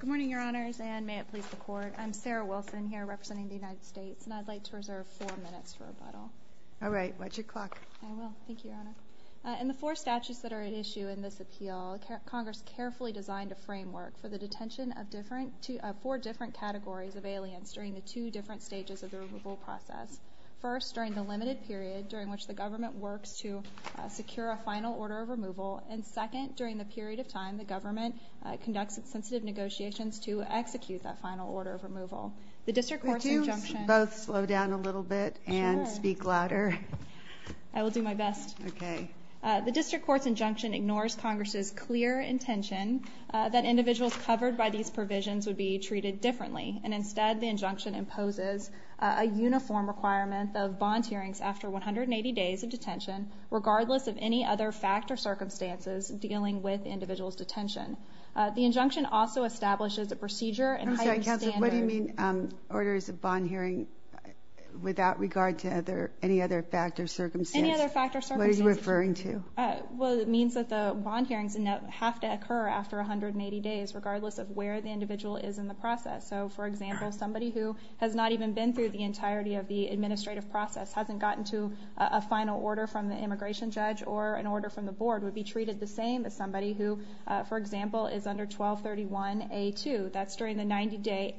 Good morning, Your Honors, and may it please the Court. I'm Sarah Wilson, here representing the United States, and I'd like to reserve four minutes for rebuttal. All right. Watch your clock. I will. Thank you, Your Honor. In the four statutes that are at issue in this appeal, Congress carefully designed a framework for the detention of four different categories of aliens during the two different stages of the removal process. First, during the limited period during which the government works to secure a final order of removal. And second, during the period of time the government conducts sensitive negotiations to execute that final order of removal. The district court's injunction... Could you both slow down a little bit and speak louder? I will do my best. Okay. The district court's injunction ignores Congress's clear intention that individuals covered by these provisions would be treated differently. And instead, the injunction imposes a uniform requirement of bond hearings after 180 days of detention, regardless of any other fact or circumstances dealing with the individual's detention. The injunction also establishes a procedure... I'm sorry, Counselor, what do you mean orders of bond hearing without regard to any other fact or circumstance? Any other fact or circumstance. What are you referring to? Well, it means that the bond hearings have to occur after 180 days, regardless of where the individual is in the process. So, for example, somebody who has not even been through the entirety of the administrative process, hasn't gotten to a final order from the immigration judge, or an order from the board would be treated the same as somebody who, for example, is under 1231A2. That's during the 90-day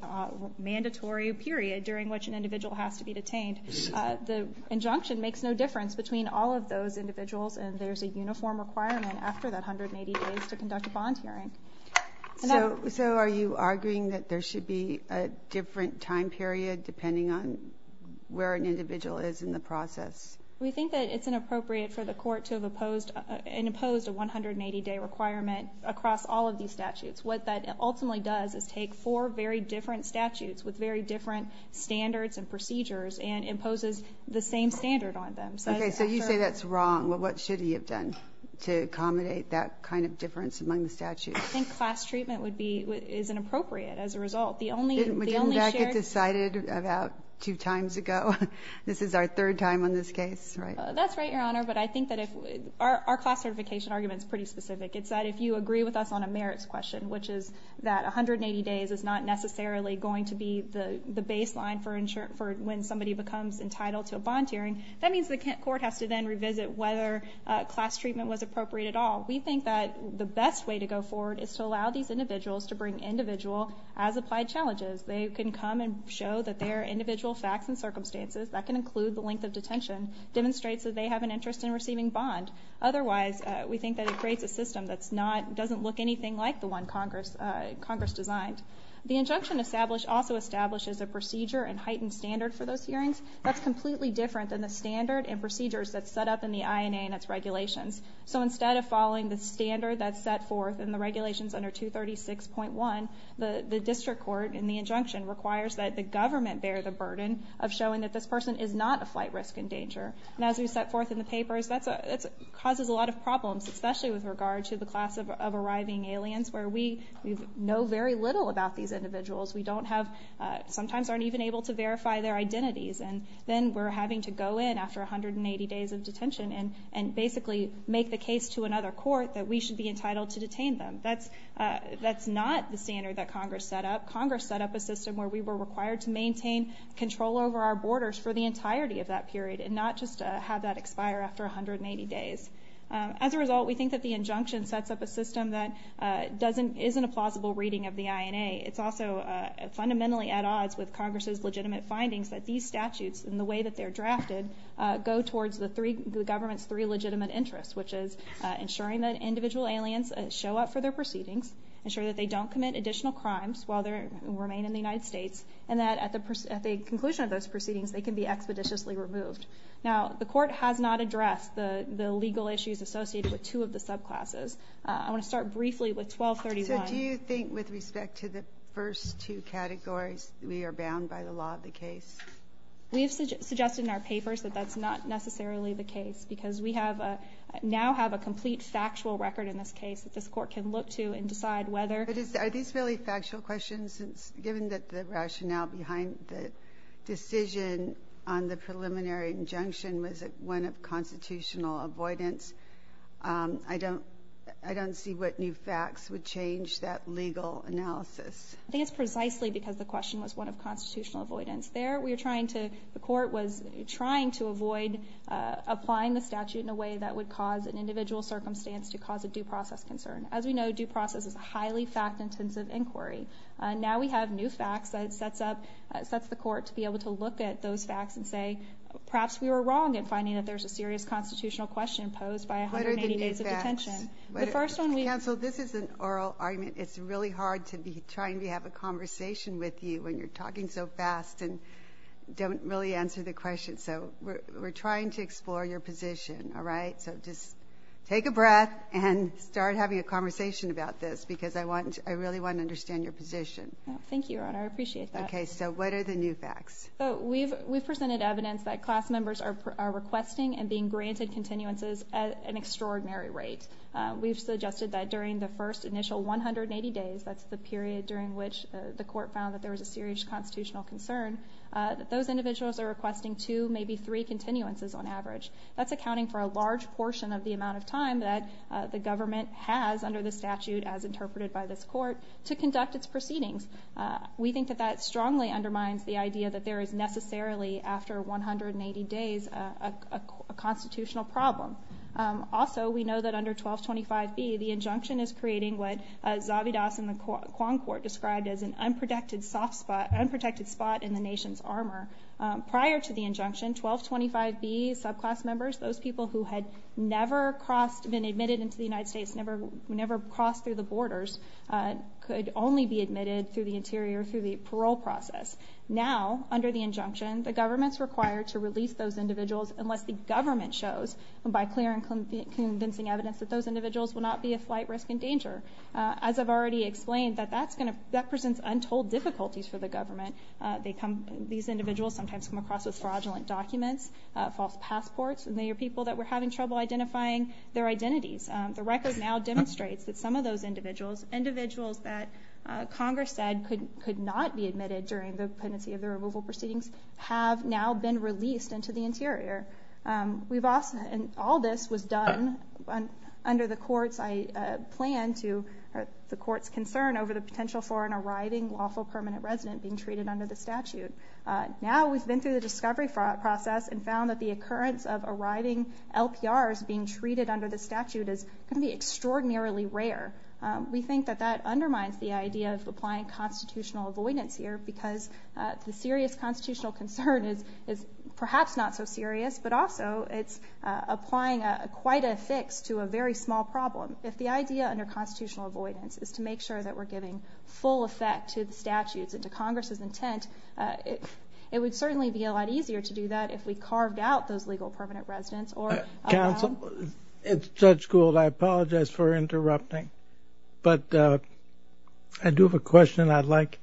mandatory period during which an individual has to be detained. The injunction makes no difference between all of those individuals, and there's a uniform requirement after that 180 days to conduct a bond hearing. So are you arguing that there should be a different time period depending on where an individual is in the process? We think that it's inappropriate for the court to have imposed a 180-day requirement across all of these statutes. What that ultimately does is take four very different statutes with very different standards and procedures and imposes the same standard on them. Okay, so you say that's wrong, but what should he have done to accommodate that kind of difference among the statutes? I think class treatment is inappropriate as a result. Didn't that get decided about two times ago? This is our third time on this case, right? That's right, Your Honor, but I think that our class certification argument is pretty specific. It's that if you agree with us on a merits question, which is that 180 days is not necessarily going to be the baseline for when somebody becomes entitled to a bond hearing, that means the court has to then revisit whether class treatment was appropriate at all. We think that the best way to go forward is to allow these individuals to bring individual as applied challenges. They can come and show that their individual facts and circumstances, that can include the length of detention, demonstrates that they have an interest in receiving bond. Otherwise, we think that it creates a system that doesn't look anything like the one Congress designed. The injunction also establishes a procedure and heightened standard for those hearings that's completely different than the standard and procedures that's set up in the INA and its regulations. So instead of following the standard that's set forth in the regulations under 236.1, the district court in the injunction requires that the government bear the burden of showing that this person is not a flight risk in danger. And as we set forth in the papers, that causes a lot of problems, especially with regard to the class of arriving aliens where we know very little about these individuals. We don't have, sometimes aren't even able to verify their identities. And then we're having to go in after 180 days of detention and basically make the case to another court that we should be entitled to detain them. That's not the standard that Congress set up. Congress set up a system where we were required to maintain control over our borders for the entirety of that period and not just have that expire after 180 days. As a result, we think that the injunction sets up a system that isn't a plausible reading of the INA. It's also fundamentally at odds with Congress's legitimate findings that these statutes and the way that they're drafted go towards the government's three legitimate interests, which is ensuring that individual aliens show up for their proceedings, ensuring that they don't commit additional crimes while they remain in the United States, and that at the conclusion of those proceedings they can be expeditiously removed. Now, the court has not addressed the legal issues associated with two of the subclasses. I want to start briefly with 1231. So do you think with respect to the first two categories we are bound by the law of the case? We have suggested in our papers that that's not necessarily the case because we now have a complete factual record in this case that this court can look to and decide whether. But are these really factual questions? Given that the rationale behind the decision on the preliminary injunction was one of constitutional avoidance, I don't see what new facts would change that legal analysis. I think it's precisely because the question was one of constitutional avoidance. The court was trying to avoid applying the statute in a way that would cause an individual circumstance to cause a due process concern. As we know, due process is a highly fact-intensive inquiry. Now we have new facts that sets the court to be able to look at those facts and say, What are the new facts? Counsel, this is an oral argument. It's really hard to be trying to have a conversation with you when you're talking so fast and don't really answer the question. So we're trying to explore your position, all right? So just take a breath and start having a conversation about this because I really want to understand your position. Thank you, Your Honor. I appreciate that. Okay, so what are the new facts? We've presented evidence that class members are requesting and being granted continuances at an extraordinary rate. We've suggested that during the first initial 180 days, that's the period during which the court found that there was a serious constitutional concern, that those individuals are requesting two, maybe three continuances on average. That's accounting for a large portion of the amount of time that the government has, under the statute as interpreted by this court, to conduct its proceedings. We think that that strongly undermines the idea that there is necessarily, after 180 days, a constitutional problem. Also, we know that under 1225B, the injunction is creating what Zavidas and the Quan Court described as an unprotected spot in the nation's armor. Prior to the injunction, 1225B subclass members, those people who had never been admitted into the United States, never crossed through the borders, could only be admitted through the interior, through the parole process. Now, under the injunction, the government's required to release those individuals unless the government shows, by clear and convincing evidence, that those individuals will not be a flight risk and danger. As I've already explained, that presents untold difficulties for the government. These individuals sometimes come across with fraudulent documents, false passports, and they are people that we're having trouble identifying their identities. The record now demonstrates that some of those individuals, individuals that Congress said could not be admitted during the pendency of the removal proceedings, have now been released into the interior. All this was done under the court's concern over the potential for an arriving lawful permanent resident being treated under the statute. Now we've been through the discovery process and found that the occurrence of arriving LPRs being treated under the statute is going to be extraordinarily rare. We think that that undermines the idea of applying constitutional avoidance here because the serious constitutional concern is perhaps not so serious, but also it's applying quite a fix to a very small problem. If the idea under constitutional avoidance is to make sure that we're giving full effect to the statutes and to Congress's intent, it would certainly be a lot easier to do that if we carved out those legal permanent residents or allowed— It's Judge Gould. I apologize for interrupting. But I do have a question I'd like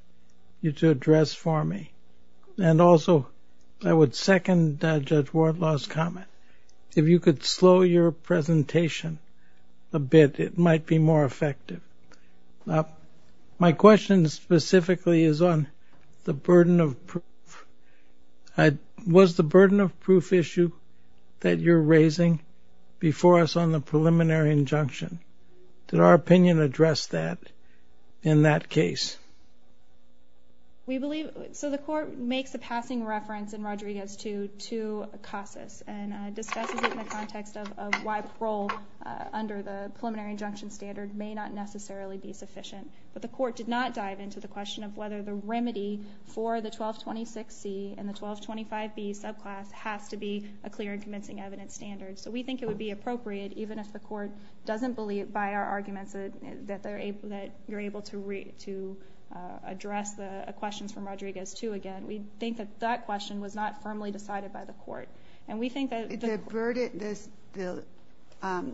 you to address for me. And also I would second Judge Wardlaw's comment. If you could slow your presentation a bit, it might be more effective. My question specifically is on the burden of proof. Was the burden of proof issue that you're raising before us on the preliminary injunction? Did our opinion address that in that case? We believe—so the Court makes a passing reference in Rodriguez 2 to CASAS and discusses it in the context of why parole under the preliminary injunction standard may not necessarily be sufficient. But the Court did not dive into the question of whether the remedy for the 1226C and the 1225B subclass has to be a clear and convincing evidence standard. So we think it would be appropriate, even if the Court doesn't believe by our arguments that you're able to address the questions from Rodriguez 2 again. We think that that question was not firmly decided by the Court. The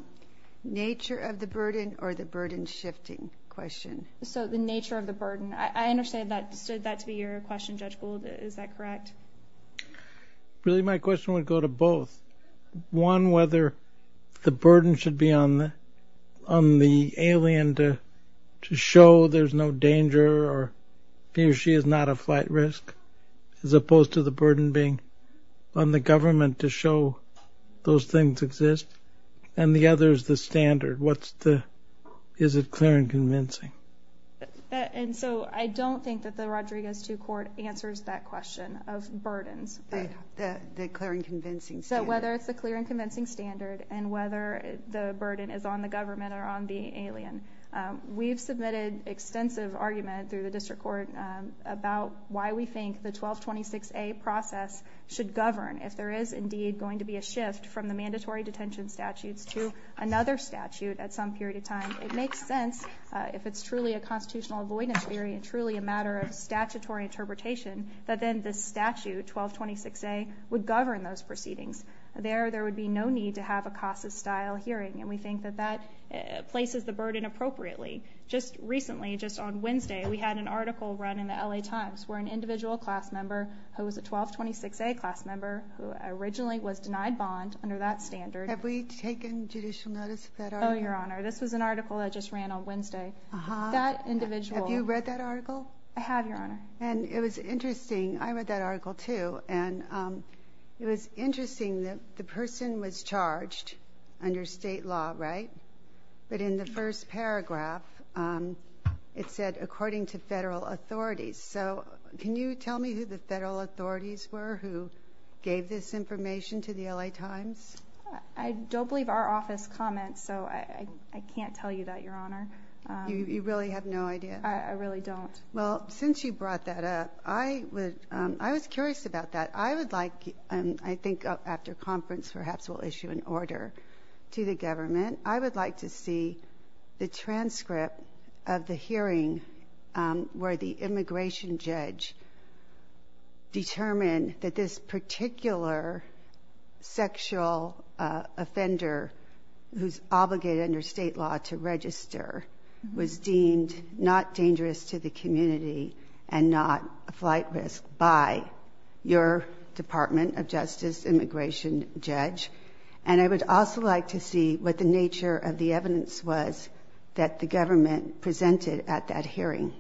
nature of the burden or the burden shifting question? So the nature of the burden. I understood that to be your question, Judge Gould. Is that correct? Really my question would go to both. One, whether the burden should be on the alien to show there's no danger or he or she is not a flight risk, as opposed to the burden being on the government to show those things exist. And the other is the standard. What's the—is it clear and convincing? And so I don't think that the Rodriguez 2 Court answers that question of burdens. The clear and convincing standard. So whether it's the clear and convincing standard and whether the burden is on the government or on the alien. We've submitted extensive argument through the District Court about why we think the 1226A process should govern if there is indeed going to be a shift from the mandatory detention statutes to another statute at some period of time. It makes sense if it's truly a constitutional avoidance theory and truly a matter of statutory interpretation that then this statute, 1226A, would govern those proceedings. There, there would be no need to have a CASA-style hearing. And we think that that places the burden appropriately. Just recently, just on Wednesday, we had an article run in the LA Times where an individual class member who was a 1226A class member who originally was denied bond under that standard— Have we taken judicial notice of that article? Oh, Your Honor, this was an article that just ran on Wednesday. Uh-huh. That individual— Have you read that article? I have, Your Honor. And it was interesting. I read that article, too. And it was interesting that the person was charged under state law, right? But in the first paragraph, it said, according to federal authorities. So can you tell me who the federal authorities were who gave this information to the LA Times? I don't believe our office comments, so I can't tell you that, Your Honor. You really have no idea? I really don't. Well, since you brought that up, I was curious about that. I would like—I think after conference, perhaps we'll issue an order to the government. I would like to see the transcript of the hearing where the immigration judge determined that this particular sexual offender who's obligated under state law to register was deemed not dangerous to the community and not a flight risk by your Department of Justice immigration judge. And I would also like to see what the nature of the evidence was that the government presented at that hearing.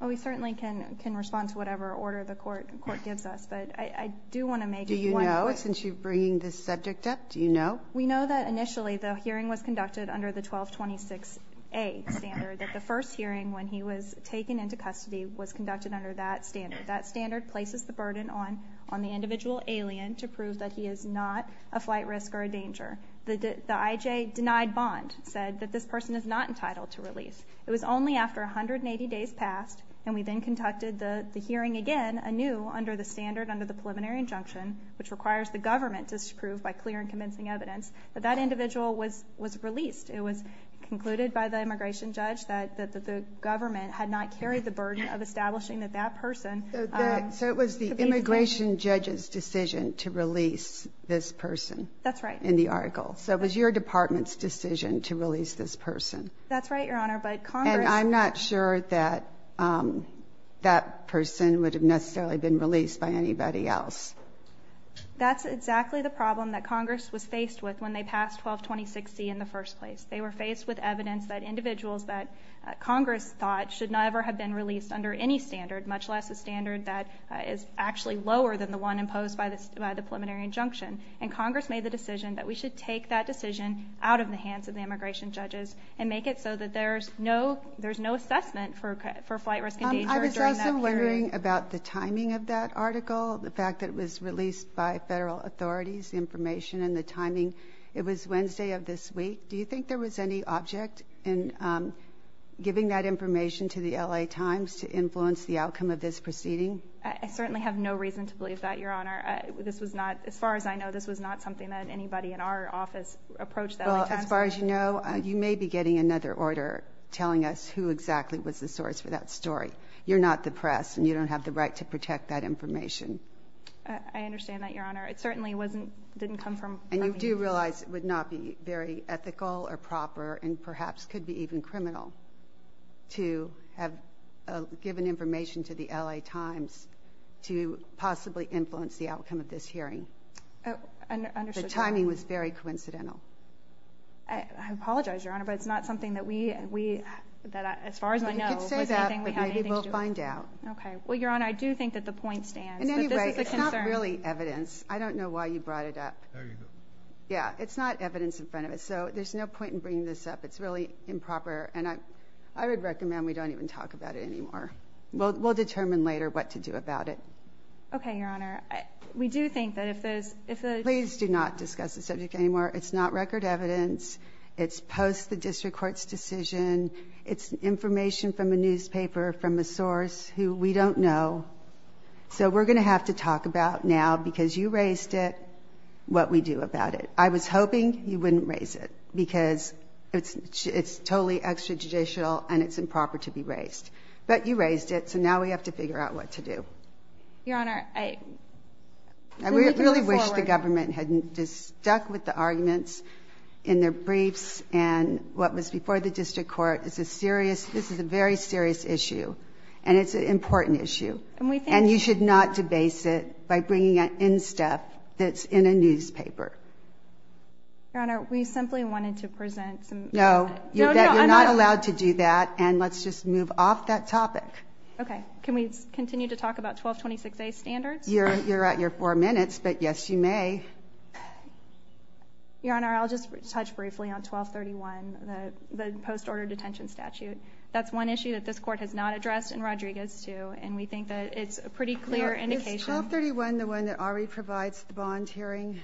Well, we certainly can respond to whatever order the court gives us, but I do want to make one point. Do you know, since you're bringing this subject up, do you know? We know that initially the hearing was conducted under the 1226A standard, that the first hearing when he was taken into custody was conducted under that standard. That standard places the burden on the individual alien to prove that he is not a flight risk or a danger. The IJ denied bond said that this person is not entitled to release. It was only after 180 days passed, and we then conducted the hearing again anew under the standard under the preliminary injunction, which requires the government to approve by clear and convincing evidence, that that individual was released. It was concluded by the immigration judge that the government had not carried the burden of establishing that that person could be released. So it was the immigration judge's decision to release this person. That's right. In the article. So it was your department's decision to release this person. That's right, Your Honor. And I'm not sure that that person would have necessarily been released by anybody else. That's exactly the problem that Congress was faced with when they passed 1226C in the first place. They were faced with evidence that individuals that Congress thought should not ever have been released under any standard, much less a standard that is actually lower than the one imposed by the preliminary injunction. And Congress made the decision that we should take that decision out of the hands of the immigration judges and make it so that there's no assessment for flight risk and danger during that period. I was also wondering about the timing of that article, the fact that it was released by federal authorities, the information and the timing. It was Wednesday of this week. Do you think there was any object in giving that information to the L.A. Times to influence the outcome of this proceeding? I certainly have no reason to believe that, Your Honor. As far as I know, this was not something that anybody in our office approached that way. Well, as far as you know, you may be getting another order telling us who exactly was the source for that story. You're not the press, and you don't have the right to protect that information. I understand that, Your Honor. It certainly didn't come from me. And you do realize it would not be very ethical or proper and perhaps could be even criminal to have given information to the L.A. Times to possibly influence the outcome of this hearing. The timing was very coincidental. I apologize, Your Honor, but it's not something that we, as far as I know, was anything we had anything to do with. You can say that, but maybe we'll find out. Okay. Well, Your Honor, I do think that the point stands. But this is a concern. And anyway, it's not really evidence. I don't know why you brought it up. There you go. Yeah, it's not evidence in front of us, so there's no point in bringing this up. It's really improper, and I would recommend we don't even talk about it anymore. We'll determine later what to do about it. Okay, Your Honor. We do think that if there's – Please do not discuss the subject anymore. It's not record evidence. It's post the district court's decision. It's information from a newspaper, from a source who we don't know. So we're going to have to talk about now, because you raised it, what we do about it. I was hoping you wouldn't raise it, because it's totally extrajudicial and it's improper to be raised. But you raised it, so now we have to figure out what to do. Your Honor, I think we can move forward. I really wish the government hadn't just stuck with the arguments in their briefs and what was before the district court. It's a serious – this is a very serious issue, and it's an important issue. And we think – And you should not debase it by bringing in stuff that's in a newspaper. Your Honor, we simply wanted to present some – No, you're not allowed to do that, and let's just move off that topic. Okay. Can we continue to talk about 1226A standards? You're at your four minutes, but yes, you may. Your Honor, I'll just touch briefly on 1231, the post-order detention statute. That's one issue that this court has not addressed in Rodriguez too, and we think that it's a pretty clear indication. Is 1231 the one that already provides the bond hearing?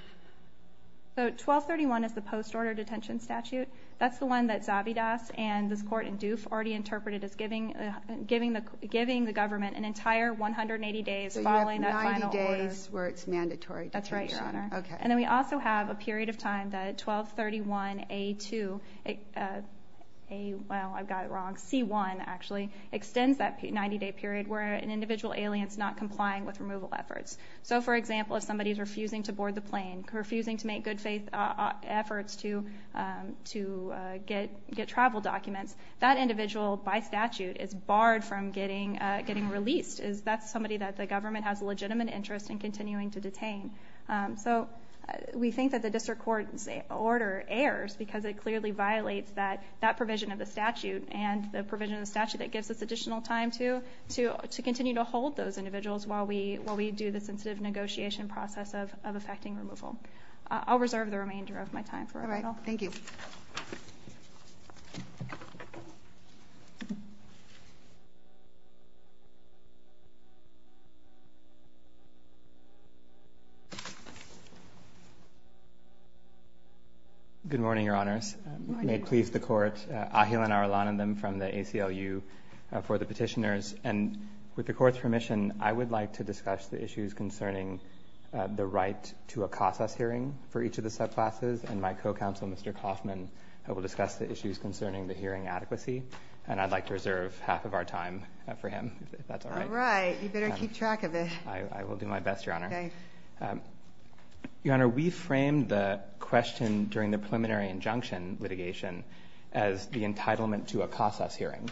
So 1231 is the post-order detention statute. That's the one that Zavidas and this court in Doof already interpreted as giving the government an entire 180 days following that final order. So you have 90 days where it's mandatory detention? That's right, Your Honor. Okay. And then we also have a period of time that 1231A2 – well, I got it wrong – C1, actually, extends that 90-day period where an individual alien is not complying with removal efforts. So, for example, if somebody is refusing to board the plane, refusing to make good-faith efforts to get travel documents, that individual, by statute, is barred from getting released. That's somebody that the government has a legitimate interest in continuing to detain. So we think that the district court's order errs because it clearly violates that provision of the statute and the provision of the statute that gives us additional time to continue to hold those individuals while we do the sensitive negotiation process of effecting removal. I'll reserve the remainder of my time for it all. Thank you. Good morning, Your Honors. Good morning. May it please the Court. Ahilan Arulanantham from the ACLU for the petitioners. And with the Court's permission, I would like to discuss the issues concerning the right to a CASAS hearing for each of the subclasses. And my co-counsel, Mr. Coffman, will discuss the issues concerning the hearing adequacy. And I'd like to reserve half of our time for him, if that's all right. All right. You better keep track of it. I will do my best, Your Honor. Okay. Your Honor, we framed the question during the preliminary injunction litigation as the entitlement to a CASAS hearing.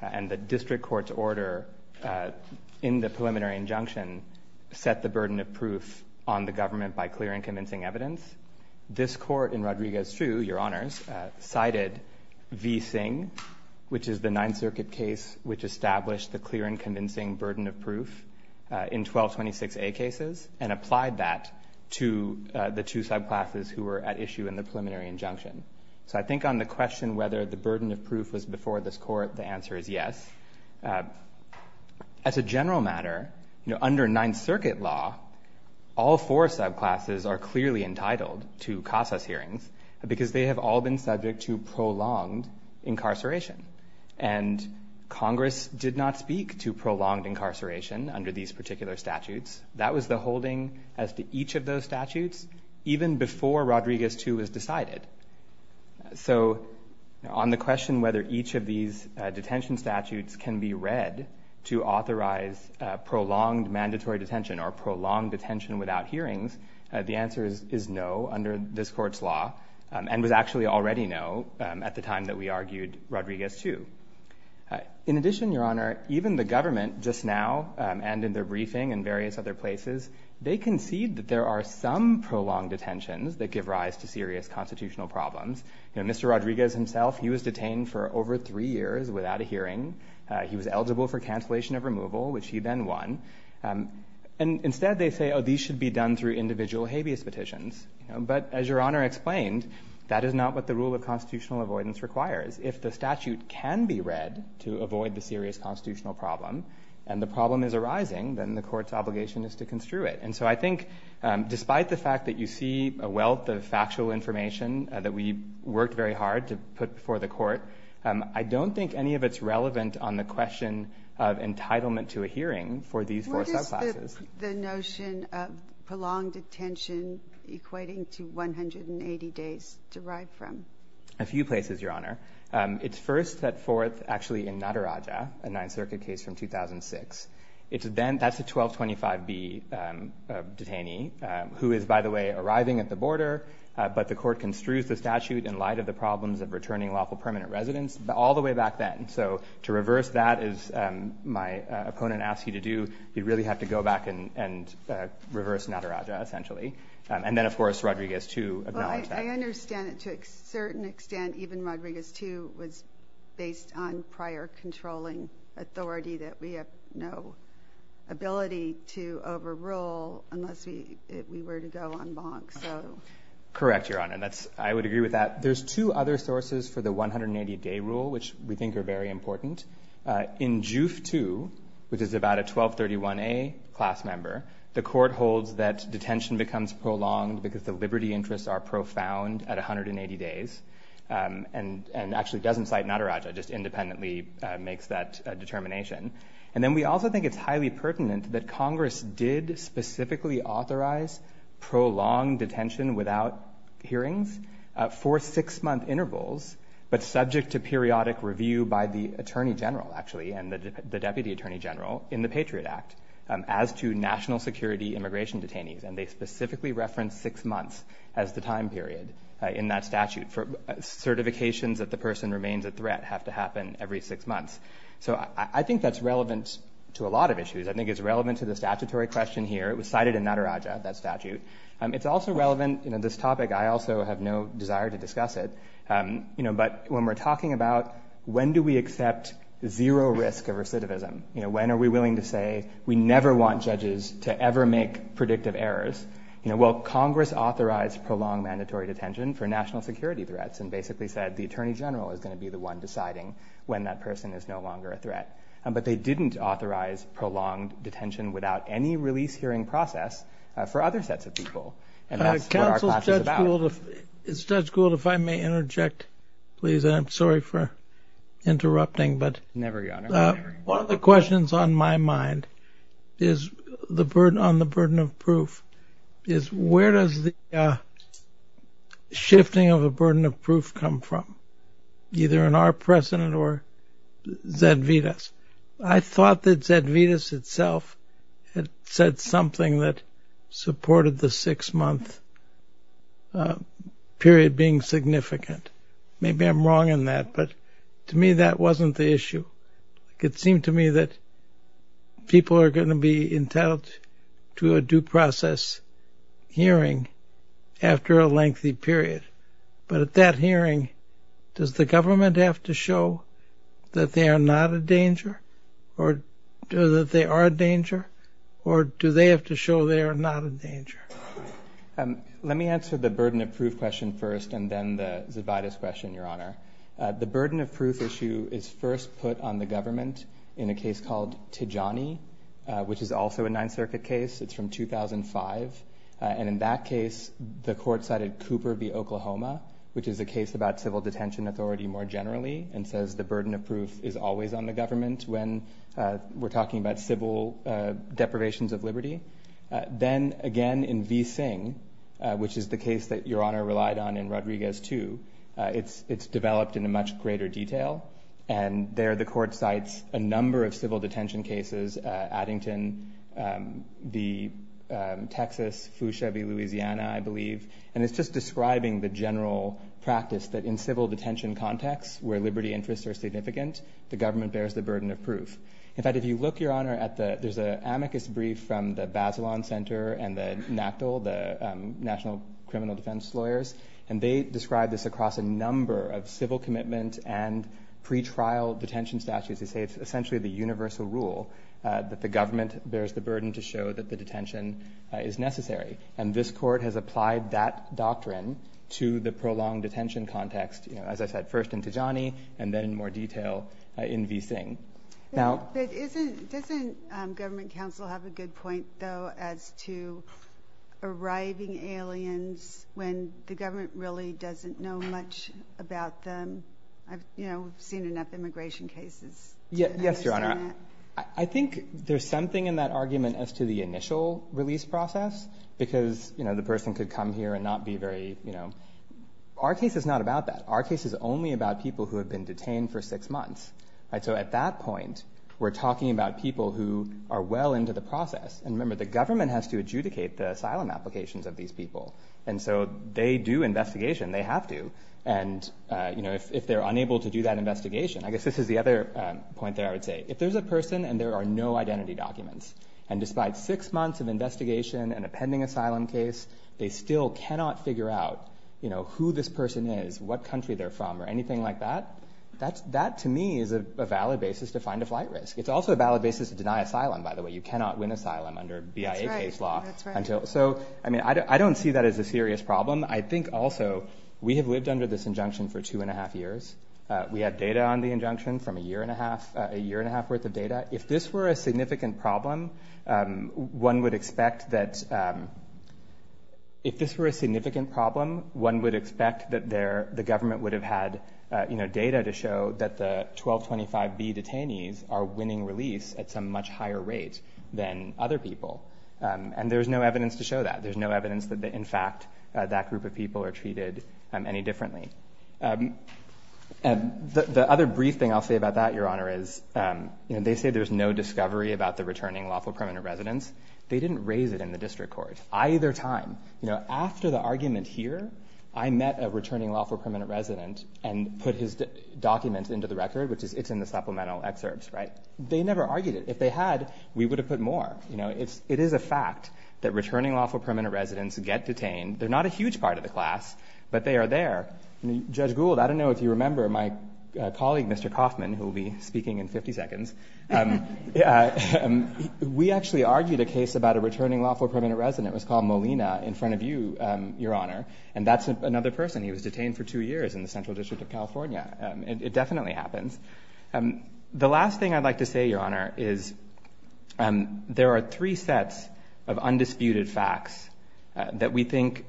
And the district court's order in the preliminary injunction set the burden of proof on the government by clear and convincing evidence. This Court in Rodriguez-Strew, Your Honors, cited V. Singh, which is the Ninth Circuit case, which established the clear and convincing burden of proof in 1226A cases and applied that to the two subclasses who were at issue in the preliminary injunction. So I think on the question whether the burden of proof was before this Court, the answer is yes. As a general matter, under Ninth Circuit law, all four subclasses are clearly entitled to CASAS hearings because they have all been subject to prolonged incarceration. And Congress did not speak to prolonged incarceration under these particular statutes. That was the holding as to each of those statutes, even before Rodriguez-Strew was decided. So on the question whether each of these detention statutes can be read to authorize prolonged mandatory detention or prolonged detention without hearings, the answer is no under this Court's law and was actually already no at the time that we argued Rodriguez-Strew. In addition, Your Honor, even the government just now and in their briefing in various other places, they concede that there are some prolonged detentions that give rise to serious constitutional problems. Mr. Rodriguez himself, he was detained for over three years without a hearing. He was eligible for cancellation of removal, which he then won. And instead they say, oh, these should be done through individual habeas petitions. But as Your Honor explained, that is not what the rule of constitutional avoidance requires. If the statute can be read to avoid the serious constitutional problem and the problem is arising, then the Court's obligation is to construe it. And so I think despite the fact that you see a wealth of factual information that we worked very hard to put before the Court, I don't think any of it's relevant on the question of entitlement to a hearing for these four subclasses. What is the notion of prolonged detention equating to 180 days derived from? A few places, Your Honor. It's first that fourth actually in Nataraja, a Ninth Circuit case from 2006. That's a 1225B detainee who is, by the way, arriving at the border, but the Court construes the statute in light of the problems of returning lawful permanent residence all the way back then. So to reverse that, as my opponent asked you to do, you'd really have to go back and reverse Nataraja essentially. And then, of course, Rodriguez, too, acknowledged that. I understand that to a certain extent even Rodriguez, too, was based on prior controlling authority that we have no ability to overrule unless we were to go en banc. Correct, Your Honor. I would agree with that. There's two other sources for the 180-day rule, which we think are very important. In JUF II, which is about a 1231A class member, the Court holds that detention becomes prolonged because the liberty interests are profound at 180 days and actually doesn't cite Nataraja, just independently makes that determination. And then we also think it's highly pertinent that Congress did specifically authorize prolonged detention without hearings for six-month intervals, but subject to periodic review by the Attorney General, actually, and the Deputy Attorney General in the Patriot Act, as to national security immigration detainees. And they specifically reference six months as the time period in that statute for certifications that the person remains a threat have to happen every six months. So I think that's relevant to a lot of issues. I think it's relevant to the statutory question here. It was cited in Nataraja, that statute. It's also relevant in this topic. I also have no desire to discuss it. But when we're talking about when do we accept zero risk of recidivism, when are we willing to say we never want judges to ever make predictive errors? Well, Congress authorized prolonged mandatory detention for national security threats and basically said the Attorney General is going to be the one deciding when that person is no longer a threat. But they didn't authorize prolonged detention without any release hearing process for other sets of people. And that's what our class is about. Judge Gould, if I may interject, please, and I'm sorry for interrupting. Never, Your Honor. One of the questions on my mind is on the burden of proof, is where does the shifting of the burden of proof come from, either in our precedent or Zedvitas? I thought that Zedvitas itself had said something that supported the six-month period being significant. Maybe I'm wrong in that, but to me that wasn't the issue. It seemed to me that people are going to be entitled to a due process hearing after a lengthy period. But at that hearing, does the government have to show that they are not a danger or that they are a danger, or do they have to show they are not a danger? Let me answer the burden of proof question first and then the Zedvitas question, Your Honor. The burden of proof issue is first put on the government in a case called Tijani, which is also a Ninth Circuit case. It's from 2005. And in that case, the court cited Cooper v. Oklahoma, which is a case about civil detention authority more generally, and says the burden of proof is always on the government when we're talking about civil deprivations of liberty. Then, again, in V. Singh, which is the case that Your Honor relied on in Rodriguez II, it's developed in a much greater detail, and there the court cites a number of civil detention cases, Addington, Texas, Fushebi, Louisiana, I believe, and it's just describing the general practice that in civil detention contexts where liberty interests are significant, the government bears the burden of proof. In fact, if you look, Your Honor, there's an amicus brief from the Bazelon Center and the NACDL, the National Criminal Defense Lawyers, and they describe this across a number of civil commitment and pretrial detention statutes. They say it's essentially the universal rule that the government bears the burden to show that the detention is necessary. And this court has applied that doctrine to the prolonged detention context, as I said, first in Tijani and then in more detail in V. Singh. Doesn't government counsel have a good point, though, as to arriving aliens when the government really doesn't know much about them? I've seen enough immigration cases to understand that. Yes, Your Honor. I think there's something in that argument as to the initial release process because the person could come here and not be very, you know. Our case is not about that. Our case is only about people who have been detained for six months. So at that point, we're talking about people who are well into the process. And remember, the government has to adjudicate the asylum applications of these people. And so they do investigation. They have to. And, you know, if they're unable to do that investigation, I guess this is the other point there I would say. If there's a person and there are no identity documents, and despite six months of investigation and a pending asylum case, they still cannot figure out, you know, who this person is, what country they're from, or anything like that, that to me is a valid basis to find a flight risk. It's also a valid basis to deny asylum, by the way. You cannot win asylum under BIA case law. That's right. So, I mean, I don't see that as a serious problem. I think also we have lived under this injunction for two and a half years. We have data on the injunction from a year and a half worth of data. If this were a significant problem, one would expect that the government would have had, you know, data to show that the 1225B detainees are winning release at some much higher rate than other people. And there's no evidence to show that. There's no evidence that, in fact, that group of people are treated any differently. The other brief thing I'll say about that, Your Honor, is, you know, they say there's no discovery about the returning lawful permanent residence. They didn't raise it in the district court either time. You know, after the argument here, I met a returning lawful permanent resident and put his documents into the record, which is it's in the supplemental excerpts, right? They never argued it. If they had, we would have put more. You know, it is a fact that returning lawful permanent residents get detained. They're not a huge part of the class, but they are there. Judge Gould, I don't know if you remember my colleague, Mr. Kaufman, who will be speaking in 50 seconds. We actually argued a case about a returning lawful permanent resident. It was called Molina in front of you, Your Honor, and that's another person. He was detained for two years in the Central District of California. It definitely happens. The last thing I'd like to say, Your Honor, is there are three sets of undisputed facts that we think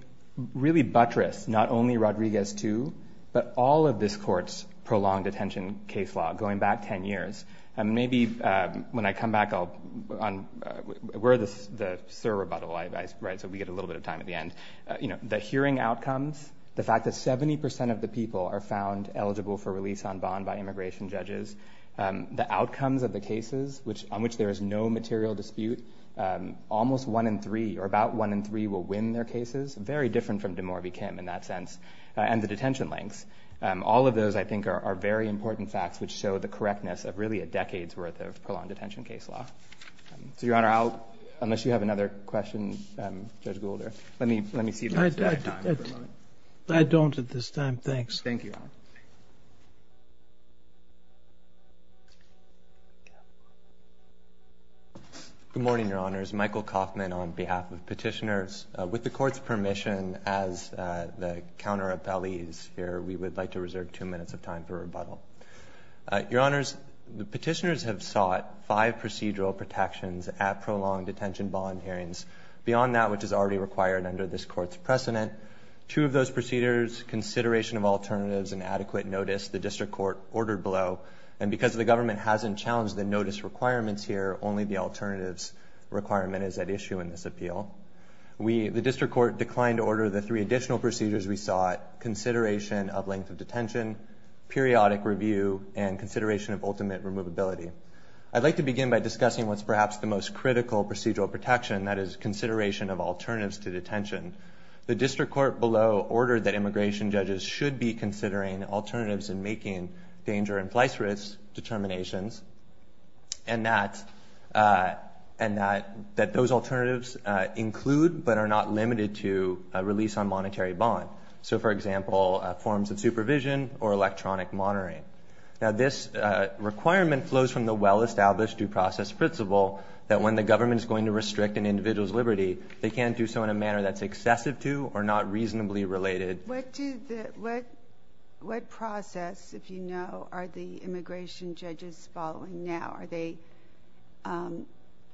really buttress not only Rodriguez II, but all of this court's prolonged detention case law going back 10 years. Maybe when I come back, we're the sur rebuttal, right? So we get a little bit of time at the end. You know, the hearing outcomes, the fact that 70 percent of the people are found eligible for release on bond by immigration judges, the outcomes of the cases on which there is no material dispute, almost one in three or about one in three will win their cases, very different from DeMaury v. Kim in that sense, and the detention lengths. All of those, I think, are very important facts which show the correctness of really a decade's worth of prolonged detention case law. So, Your Honor, unless you have another question, Judge Goulder, let me see if we have time. I don't at this time. Thanks. Thank you, Your Honor. Good morning, Your Honors. My name is Michael Kaufman on behalf of petitioners. With the Court's permission, as the counter-appellees here, we would like to reserve two minutes of time for rebuttal. Your Honors, the petitioners have sought five procedural protections at prolonged detention bond hearings. Beyond that, which is already required under this Court's precedent, two of those procedures, consideration of alternatives and adequate notice, the district court ordered below. And because the government hasn't challenged the notice requirements here, only the alternatives requirement is at issue in this appeal. The district court declined to order the three additional procedures we sought, consideration of length of detention, periodic review, and consideration of ultimate removability. I'd like to begin by discussing what's perhaps the most critical procedural protection, that is consideration of alternatives to detention. The district court below ordered that immigration judges should be considering alternatives in making danger-in-place risk determinations and that those alternatives include but are not limited to a release on monetary bond. So, for example, forms of supervision or electronic monitoring. Now, this requirement flows from the well-established due process principle that when the government is going to restrict an individual's liberty, they can't do so in a manner that's excessive to or not reasonably related. What process, if you know, are the immigration judges following now? Are they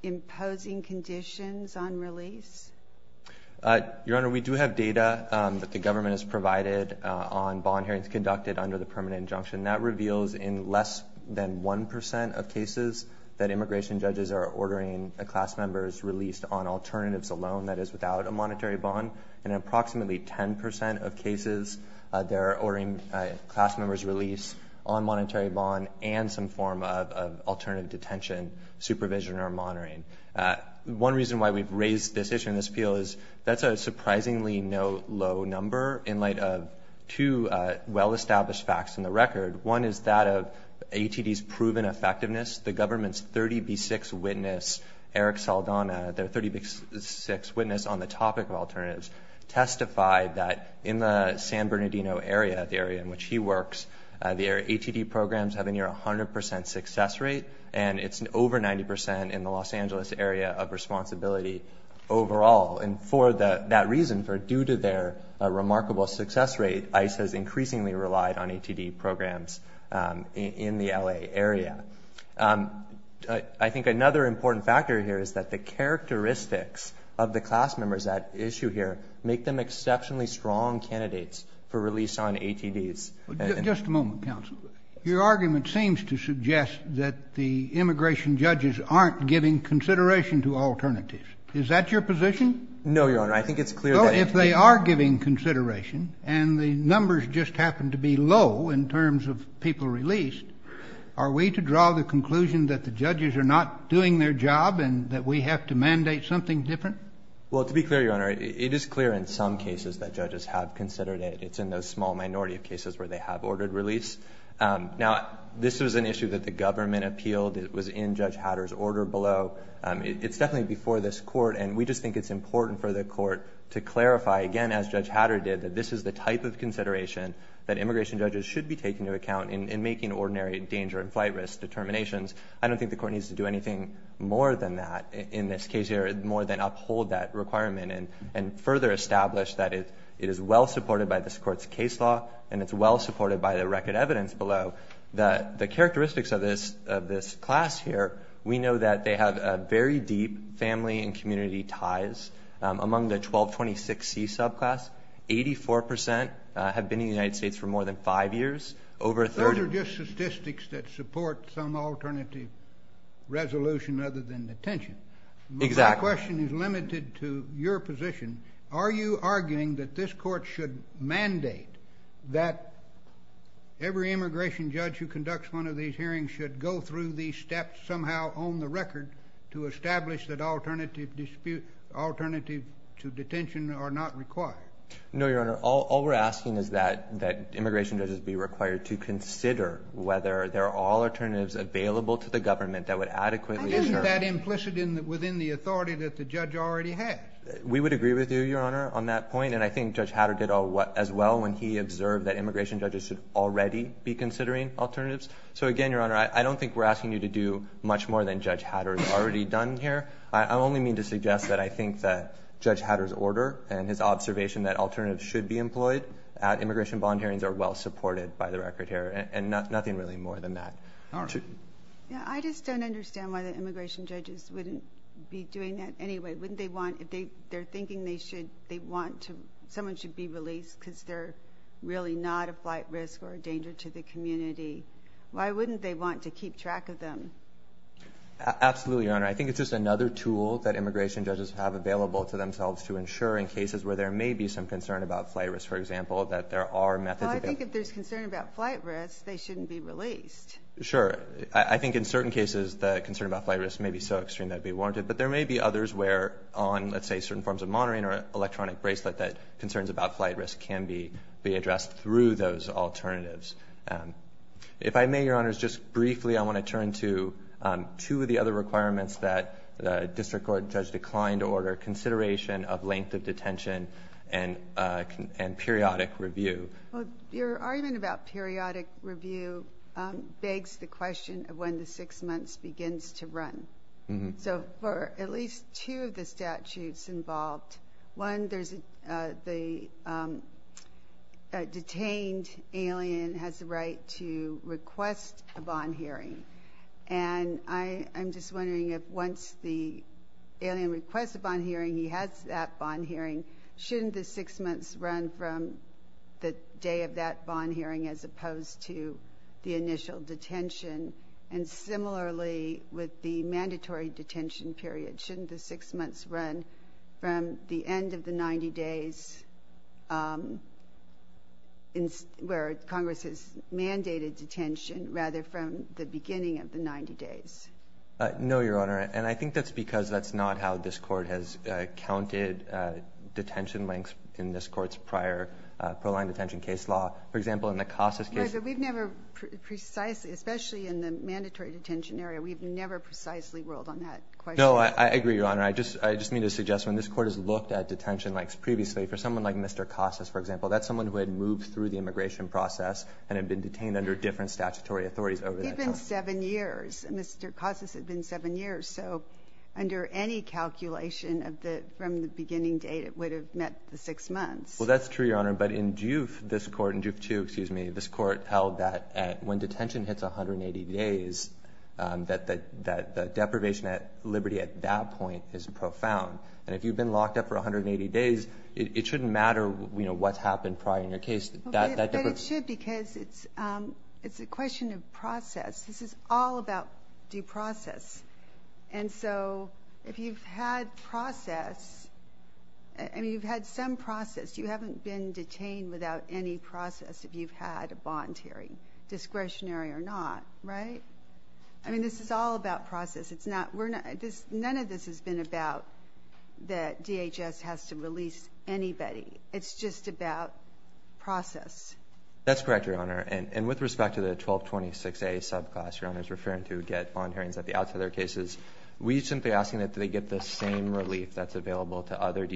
imposing conditions on release? Your Honor, we do have data that the government has provided on bond hearings conducted under the permanent injunction. And that reveals in less than 1% of cases that immigration judges are ordering a class member's release on alternatives alone, that is without a monetary bond. In approximately 10% of cases, they're ordering a class member's release on monetary bond and some form of alternative detention supervision or monitoring. One reason why we've raised this issue in this appeal is that's a surprisingly low number in light of two well-established facts in the record. One is that of ATD's proven effectiveness. The government's 30B6 witness, Eric Saldana, their 30B6 witness on the topic of alternatives, testified that in the San Bernardino area, the area in which he works, their ATD programs have a near 100% success rate, and it's over 90% in the Los Angeles area of responsibility overall. And for that reason, for due to their remarkable success rate, ICE has increasingly relied on ATD programs in the L.A. area. I think another important factor here is that the characteristics of the class members at issue here make them exceptionally strong candidates for release on ATDs. Just a moment, counsel. Your argument seems to suggest that the immigration judges aren't giving consideration to alternatives. Is that your position? No, Your Honor. I think it's clear that if they are giving consideration, and the numbers just happen to be low in terms of people released, are we to draw the conclusion that the judges are not doing their job and that we have to mandate something different? Well, to be clear, Your Honor, it is clear in some cases that judges have considered it. It's in the small minority of cases where they have ordered release. Now, this was an issue that the government appealed. It was in Judge Hatter's order below. It's definitely before this Court, and we just think it's important for the Court to clarify, again, as Judge Hatter did, that this is the type of consideration that immigration judges should be taking into account in making ordinary danger and flight risk determinations. I don't think the Court needs to do anything more than that in this case here, more than uphold that requirement and further establish that it is well supported by this Court's case law and it's well supported by the record evidence below. The characteristics of this class here, we know that they have very deep family and community ties among the 1226C subclass. Eighty-four percent have been in the United States for more than five years. Over a third of them- Those are just statistics that support some alternative resolution other than detention. Exactly. My question is limited to your position. Are you arguing that this Court should mandate that every immigration judge who conducts one of these hearings should go through these steps somehow on the record to establish that alternative to detention are not required? No, Your Honor. All we're asking is that immigration judges be required to consider whether there are alternatives available to the government that would adequately- Isn't that implicit within the authority that the judge already has? We would agree with you, Your Honor, on that point, and I think Judge Hatter did as well when he observed that immigration judges should already be considering alternatives. So again, Your Honor, I don't think we're asking you to do much more than Judge Hatter has already done here. I only mean to suggest that I think that Judge Hatter's order and his observation that alternatives should be employed at immigration bond hearings are well supported by the record here and nothing really more than that. I just don't understand why the immigration judges wouldn't be doing that anyway. If they're thinking someone should be released because they're really not a flight risk or a danger to the community, why wouldn't they want to keep track of them? Absolutely, Your Honor. I think it's just another tool that immigration judges have available to themselves to ensure in cases where there may be some concern about flight risk, for example, that there are methods- Well, I think if there's concern about flight risk, they shouldn't be released. Sure. I think in certain cases the concern about flight risk may be so extreme that it'd be warranted, but there may be others where on, let's say, certain forms of monitoring or electronic bracelet that concerns about flight risk can be addressed through those alternatives. If I may, Your Honor, just briefly I want to turn to two of the other requirements that the district court judge declined to order, consideration of length of detention and periodic review. Well, your argument about periodic review begs the question of when the 6 months begins to run. So for at least two of the statutes involved, one, the detained alien has the right to request a bond hearing, and I'm just wondering if once the alien requests a bond hearing, he has that bond hearing, shouldn't the 6 months run from the day of that bond hearing as opposed to the initial detention? And similarly, with the mandatory detention period, shouldn't the 6 months run from the end of the 90 days where Congress has mandated detention rather from the beginning of the 90 days? No, Your Honor, and I think that's because that's not how this court has counted detention lengths in this court's prior pro-line detention case law. For example, in the Casas case- No, but we've never precisely, especially in the mandatory detention area, we've never precisely ruled on that question. No, I agree, Your Honor. I just need to suggest when this court has looked at detention lengths previously, for someone like Mr. Casas, for example, that's someone who had moved through the immigration process and had been detained under different statutory authorities over that time. He'd been 7 years. Mr. Casas had been 7 years. So under any calculation from the beginning date, it would have met the 6 months. Well, that's true, Your Honor. But in Duke, this court, in Duke 2, excuse me, this court held that when detention hits 180 days, that the deprivation at liberty at that point is profound. And if you've been locked up for 180 days, it shouldn't matter, you know, what's happened prior in your case. But it should because it's a question of process. This is all about due process. And so if you've had process, and you've had some process, you haven't been detained without any process if you've had a bond hearing, discretionary or not, right? I mean, this is all about process. None of this has been about that DHS has to release anybody. It's just about process. That's correct, Your Honor. And with respect to the 1226A subclass Your Honor is referring to, get bond hearings at the outset of their cases, we shouldn't be asking that they get the same relief that's available to other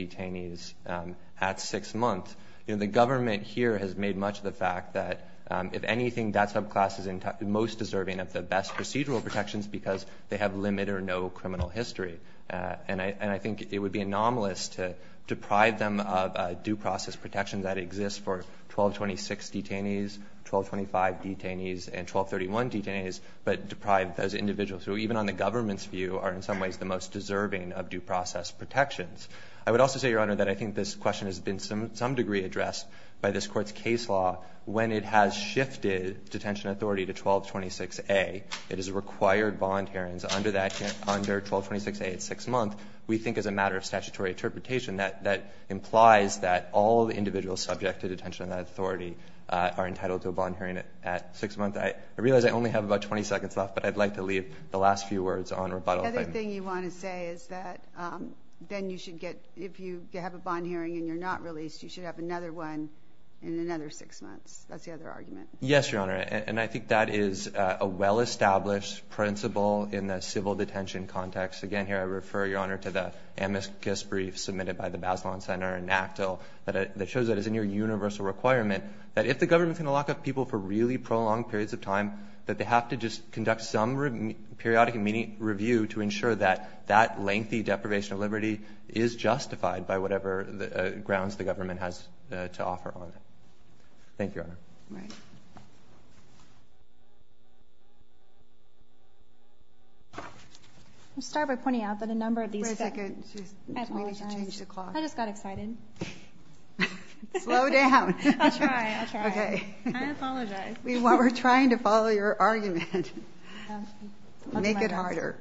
The government here has made much of the fact that if anything, that subclass is most deserving of the best procedural protections because they have limit or no criminal history. And I think it would be anomalous to deprive them of due process protections that exist for 1226 detainees, 1225 detainees, and 1231 detainees, but deprive those individuals who, even on the government's view, are in some ways the most deserving of due process protections. I would also say, Your Honor, that I think this question has been to some degree addressed by this court's case law when it has shifted detention authority to 1226A. It has required bond hearings under 1226A at six months. We think as a matter of statutory interpretation that that implies that all the individuals subject to detention authority are entitled to a bond hearing at six months. I realize I only have about 20 seconds left, but I'd like to leave the last few words on rebuttal. The other thing you want to say is that then you should get, if you have a bond hearing and you're not released, you should have another one in another six months. That's the other argument. Yes, Your Honor, and I think that is a well-established principle in the civil detention context. Again, here I refer, Your Honor, to the amicus brief submitted by the Bazelon Center and NACDL that shows that it's a near universal requirement that if the government is going to lock up people for really prolonged periods of time, that they have to just conduct some periodic review to ensure that that lengthy deprivation of liberty is justified by whatever grounds the government has to offer on it. Thank you, Your Honor. All right. I'll start by pointing out that a number of these. Wait a second. I just got excited. Slow down. I'll try. I'll try. Okay. I apologize. We're trying to follow your argument. Make it harder.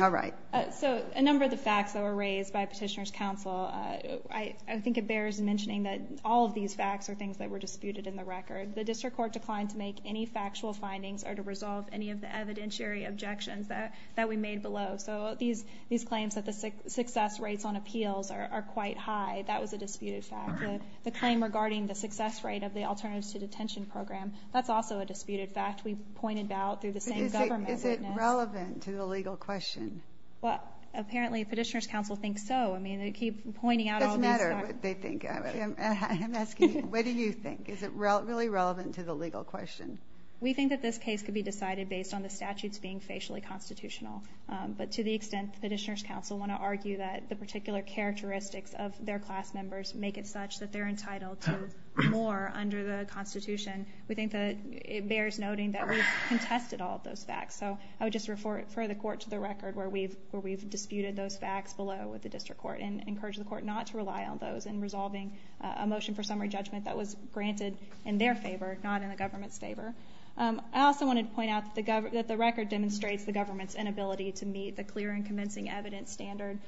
All right. So a number of the facts that were raised by Petitioner's Counsel, I think it bears mentioning that all of these facts are things that were disputed in the record. The district court declined to make any factual findings or to resolve any of the evidentiary objections that we made below. So these claims that the success rates on appeals are quite high, that was a disputed fact. The claim regarding the success rate of the alternatives to detention program, that's also a disputed fact. We pointed out through the same government witness. Is it relevant to the legal question? Well, apparently Petitioner's Counsel thinks so. I mean, they keep pointing out all these facts. It doesn't matter what they think. I'm asking you, what do you think? Is it really relevant to the legal question? We think that this case could be decided based on the statutes being facially constitutional. But to the extent that Petitioner's Counsel want to argue that the particular characteristics of their class members make it such that they're entitled to more under the Constitution, we think that it bears noting that we've contested all of those facts. So I would just refer the court to the record where we've disputed those facts below with the district court and encourage the court not to rely on those in resolving a motion for summary judgment that was granted in their favor, not in the government's favor. I also wanted to point out that the record demonstrates the government's inability to meet the clear and convincing evidence standard.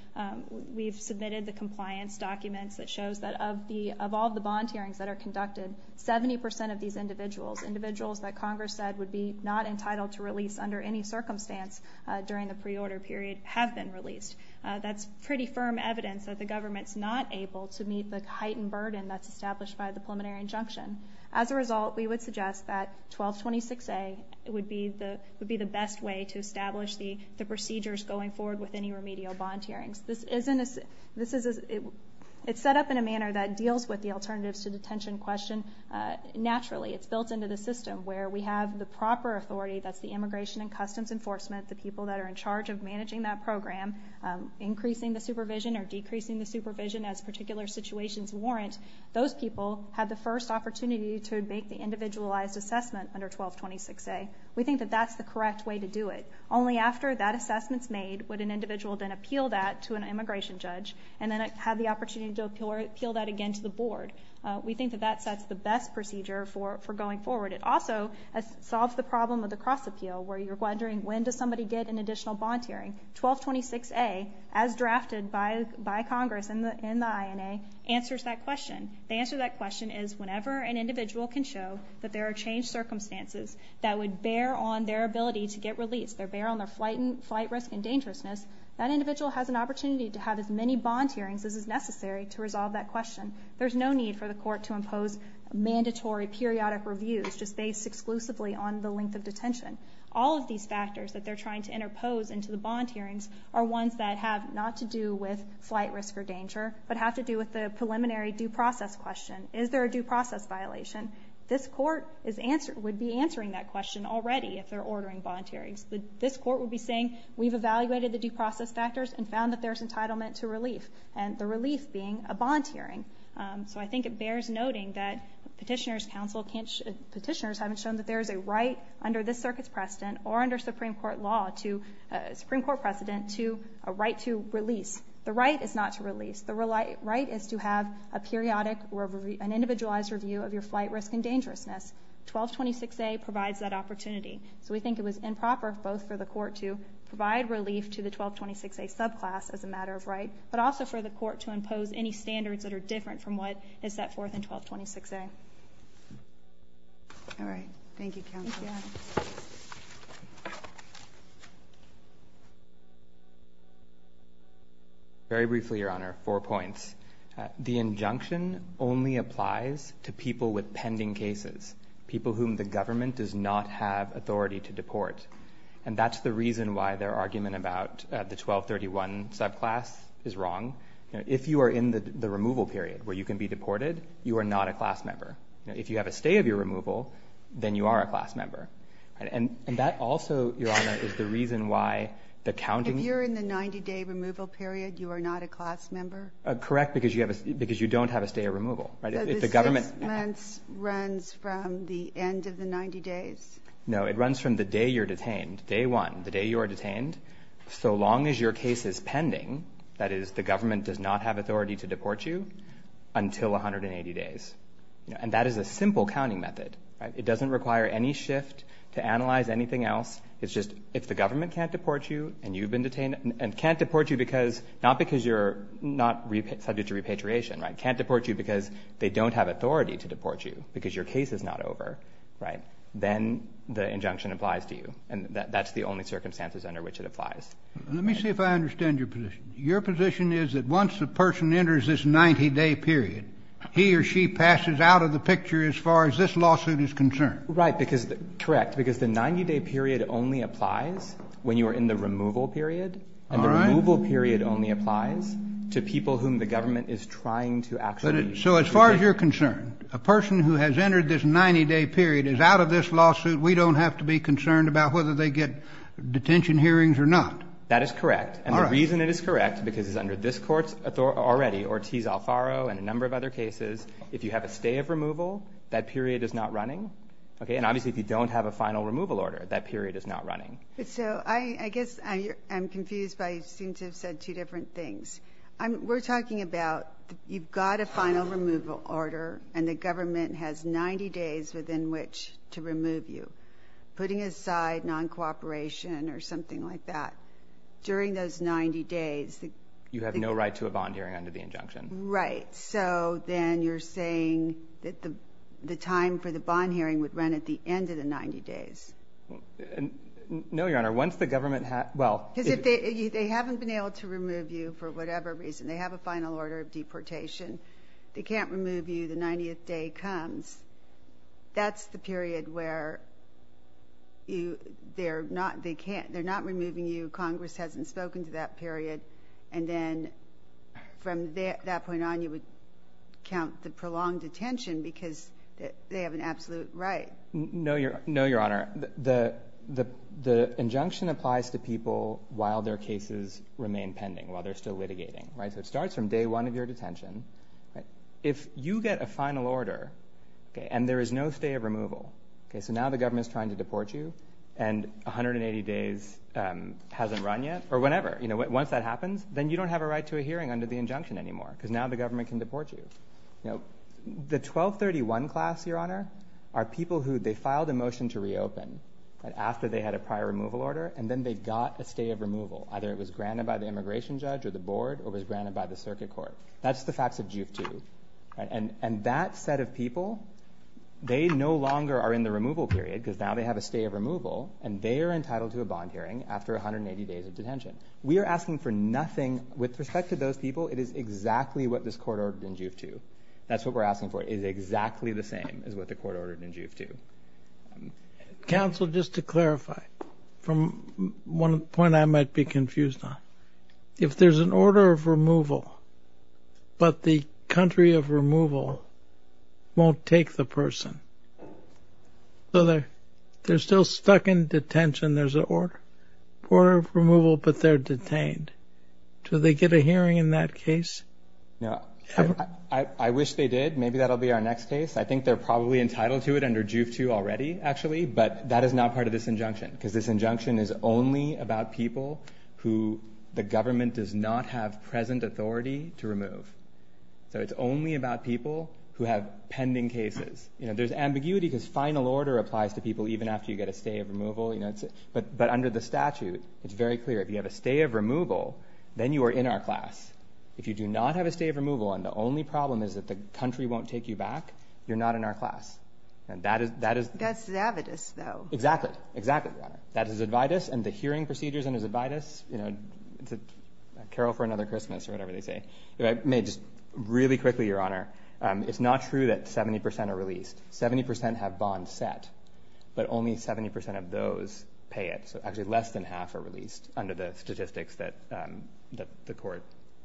We've submitted the compliance documents that shows that of all the bond hearings that are conducted, 70% of these individuals, individuals that Congress said would be not entitled to release under any circumstance during the pre-order period, have been released. That's pretty firm evidence that the government's not able to meet the heightened burden that's established by the preliminary injunction. As a result, we would suggest that 1226A would be the best way to establish the procedures going forward with any remedial bond hearings. It's set up in a manner that deals with the alternatives to detention question naturally. It's built into the system where we have the proper authority, that's the Immigration and Customs Enforcement, the people that are in charge of managing that program, increasing the supervision or decreasing the supervision as particular situations warrant. Those people had the first opportunity to make the individualized assessment under 1226A. We think that that's the correct way to do it. Only after that assessment's made would an individual then appeal that to an immigration judge and then have the opportunity to appeal that again to the board. We think that that sets the best procedure for going forward. It also solves the problem of the cross-appeal where you're wondering when does somebody get an additional bond hearing. 1226A, as drafted by Congress in the INA, answers that question. The answer to that question is whenever an individual can show that there are changed circumstances that would bear on their ability to get released, that bear on their flight risk and dangerousness, that individual has an opportunity to have as many bond hearings as is necessary to resolve that question. There's no need for the court to impose mandatory periodic reviews just based exclusively on the length of detention. All of these factors that they're trying to interpose into the bond hearings are ones that have not to do with flight risk or danger but have to do with the preliminary due process question. Is there a due process violation? This court would be answering that question already if they're ordering bond hearings. This court would be saying we've evaluated the due process factors and found that there's entitlement to relief, and the relief being a bond hearing. So I think it bears noting that petitioners haven't shown that there is a right under this circuit's precedent or under Supreme Court law, Supreme Court precedent, to a right to release. The right is not to release. The right is to have a periodic or an individualized review of your flight risk and dangerousness. 1226A provides that opportunity. So we think it was improper both for the court to provide relief to the 1226A subclass as a matter of right, but also for the court to impose any standards that are different from what is set forth in 1226A. All right. Thank you, counsel. Very briefly, Your Honor, four points. The injunction only applies to people with pending cases, people whom the government does not have authority to deport. And that's the reason why their argument about the 1231 subclass is wrong. If you are in the removal period where you can be deported, you are not a class member. If you have a stay of your removal, then you are a class member. And that also, Your Honor, is the reason why the counting of the stay of your removal period, you are not a class member. Correct, because you don't have a stay of removal. So the six months runs from the end of the 90 days? No. It runs from the day you're detained, day one, the day you are detained, so long as your case is pending, that is, the government does not have authority to deport you, until 180 days. And that is a simple counting method. It doesn't require any shift to analyze anything else. It's just if the government can't deport you and you've been detained, and can't deport you because not because you're not subject to repatriation, right, can't deport you because they don't have authority to deport you, because your case is not over, right, then the injunction applies to you. And that's the only circumstances under which it applies. Let me see if I understand your position. Your position is that once a person enters this 90-day period, he or she passes out of the picture as far as this lawsuit is concerned? Right, because the 90-day period only applies when you are in the removal period. All right. The removal period only applies to people whom the government is trying to actually So as far as you're concerned, a person who has entered this 90-day period is out of this lawsuit. We don't have to be concerned about whether they get detention hearings or not. That is correct. All right. And the reason it is correct, because it's under this Court's authority already, Ortiz-Alfaro and a number of other cases, if you have a stay of removal, that period is not running. Okay? And obviously if you don't have a final removal order, that period is not running. So I guess I'm confused by you seem to have said two different things. We're talking about you've got a final removal order, and the government has 90 days within which to remove you, putting aside non-cooperation or something like that. During those 90 days, You have no right to a bond hearing under the injunction. Right. So then you're saying that the time for the bond hearing would run at the end of the 90 days. No, Your Honor. Once the government has, well. Because they haven't been able to remove you for whatever reason. They have a final order of deportation. They can't remove you the 90th day comes. That's the period where they're not removing you. Congress hasn't spoken to that period. And then from that point on, you would count the prolonged detention because they have an absolute right. No, Your Honor. The injunction applies to people while their cases remain pending, while they're still litigating. Right. So it starts from day one of your detention. If you get a final order and there is no stay of removal. So now the government is trying to deport you. And 180 days hasn't run yet or whenever. Once that happens, then you don't have a right to a hearing under the injunction anymore because now the government can deport you. The 1231 class, Your Honor, are people who they filed a motion to reopen after they had a prior removal order. And then they got a stay of removal. Either it was granted by the immigration judge or the board or was granted by the circuit court. That's the facts of Juve 2. And that set of people, they no longer are in the removal period because now they have a stay of removal and they are entitled to a bond hearing after 180 days of detention. We are asking for nothing. With respect to those people, it is exactly what this court ordered in Juve 2. That's what we're asking for. It is exactly the same as what the court ordered in Juve 2. Counsel, just to clarify, from one point I might be confused on, if there's an order of removal, but the country of removal won't take the person, so they're still stuck in detention. There's an order of removal, but they're detained. Do they get a hearing in that case? No, I wish they did. Maybe that'll be our next case. I think they're probably entitled to it under Juve 2 already, actually, but that is not part of this injunction, because this injunction is only about people who the government does not have present authority to remove. So it's only about people who have pending cases. There's ambiguity because final order applies to people even after you get a stay of removal, but under the statute it's very clear. If you have a stay of removal, then you are in our class. If you do not have a stay of removal, and the only problem is that the country won't take you back, you're not in our class. That's Zavidus, though. Exactly. Exactly, Your Honor. That is Zavidus, and the hearing procedures under Zavidus, it's a carol for another Christmas or whatever they say. If I may just really quickly, Your Honor, it's not true that 70% are released. Seventy percent have bonds set, but only 70% of those pay it, so actually less than half are released under the statistics that the court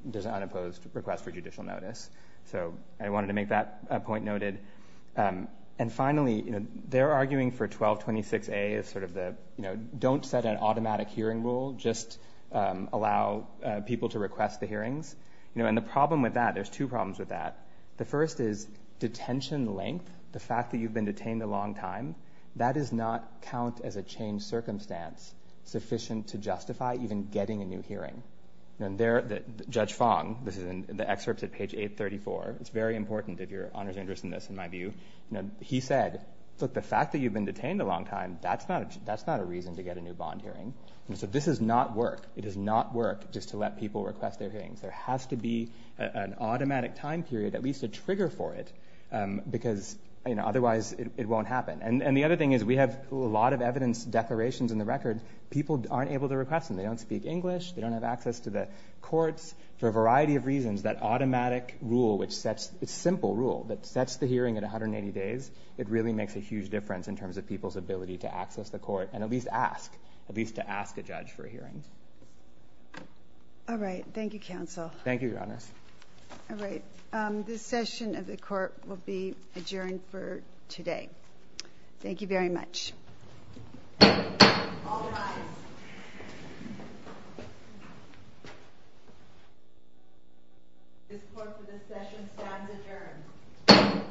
does an unopposed request for judicial notice. So I wanted to make that point noted. And finally, they're arguing for 1226A as sort of the don't set an automatic hearing rule, just allow people to request the hearings. And the problem with that, there's two problems with that. The first is detention length, the fact that you've been detained a long time, that does not count as a changed circumstance sufficient to justify even getting a new hearing. Judge Fong, this is in the excerpts at page 834, it's very important if Your Honor is interested in this, in my view, he said, look, the fact that you've been detained a long time, that's not a reason to get a new bond hearing. And so this does not work. It does not work just to let people request their hearings. There has to be an automatic time period, at least a trigger for it, because otherwise it won't happen. And the other thing is we have a lot of evidence declarations in the record. People aren't able to request them. They don't speak English. They don't have access to the courts. For a variety of reasons, that automatic rule which sets, it's a simple rule, that sets the hearing at 180 days, it really makes a huge difference in terms of people's ability to access the court and at least ask, at least to ask a judge for a hearing. All right. Thank you, counsel. Thank you, Your Honor. All right. This session of the court will be adjourned for today. Thank you very much. All rise. This court for this session stands adjourned.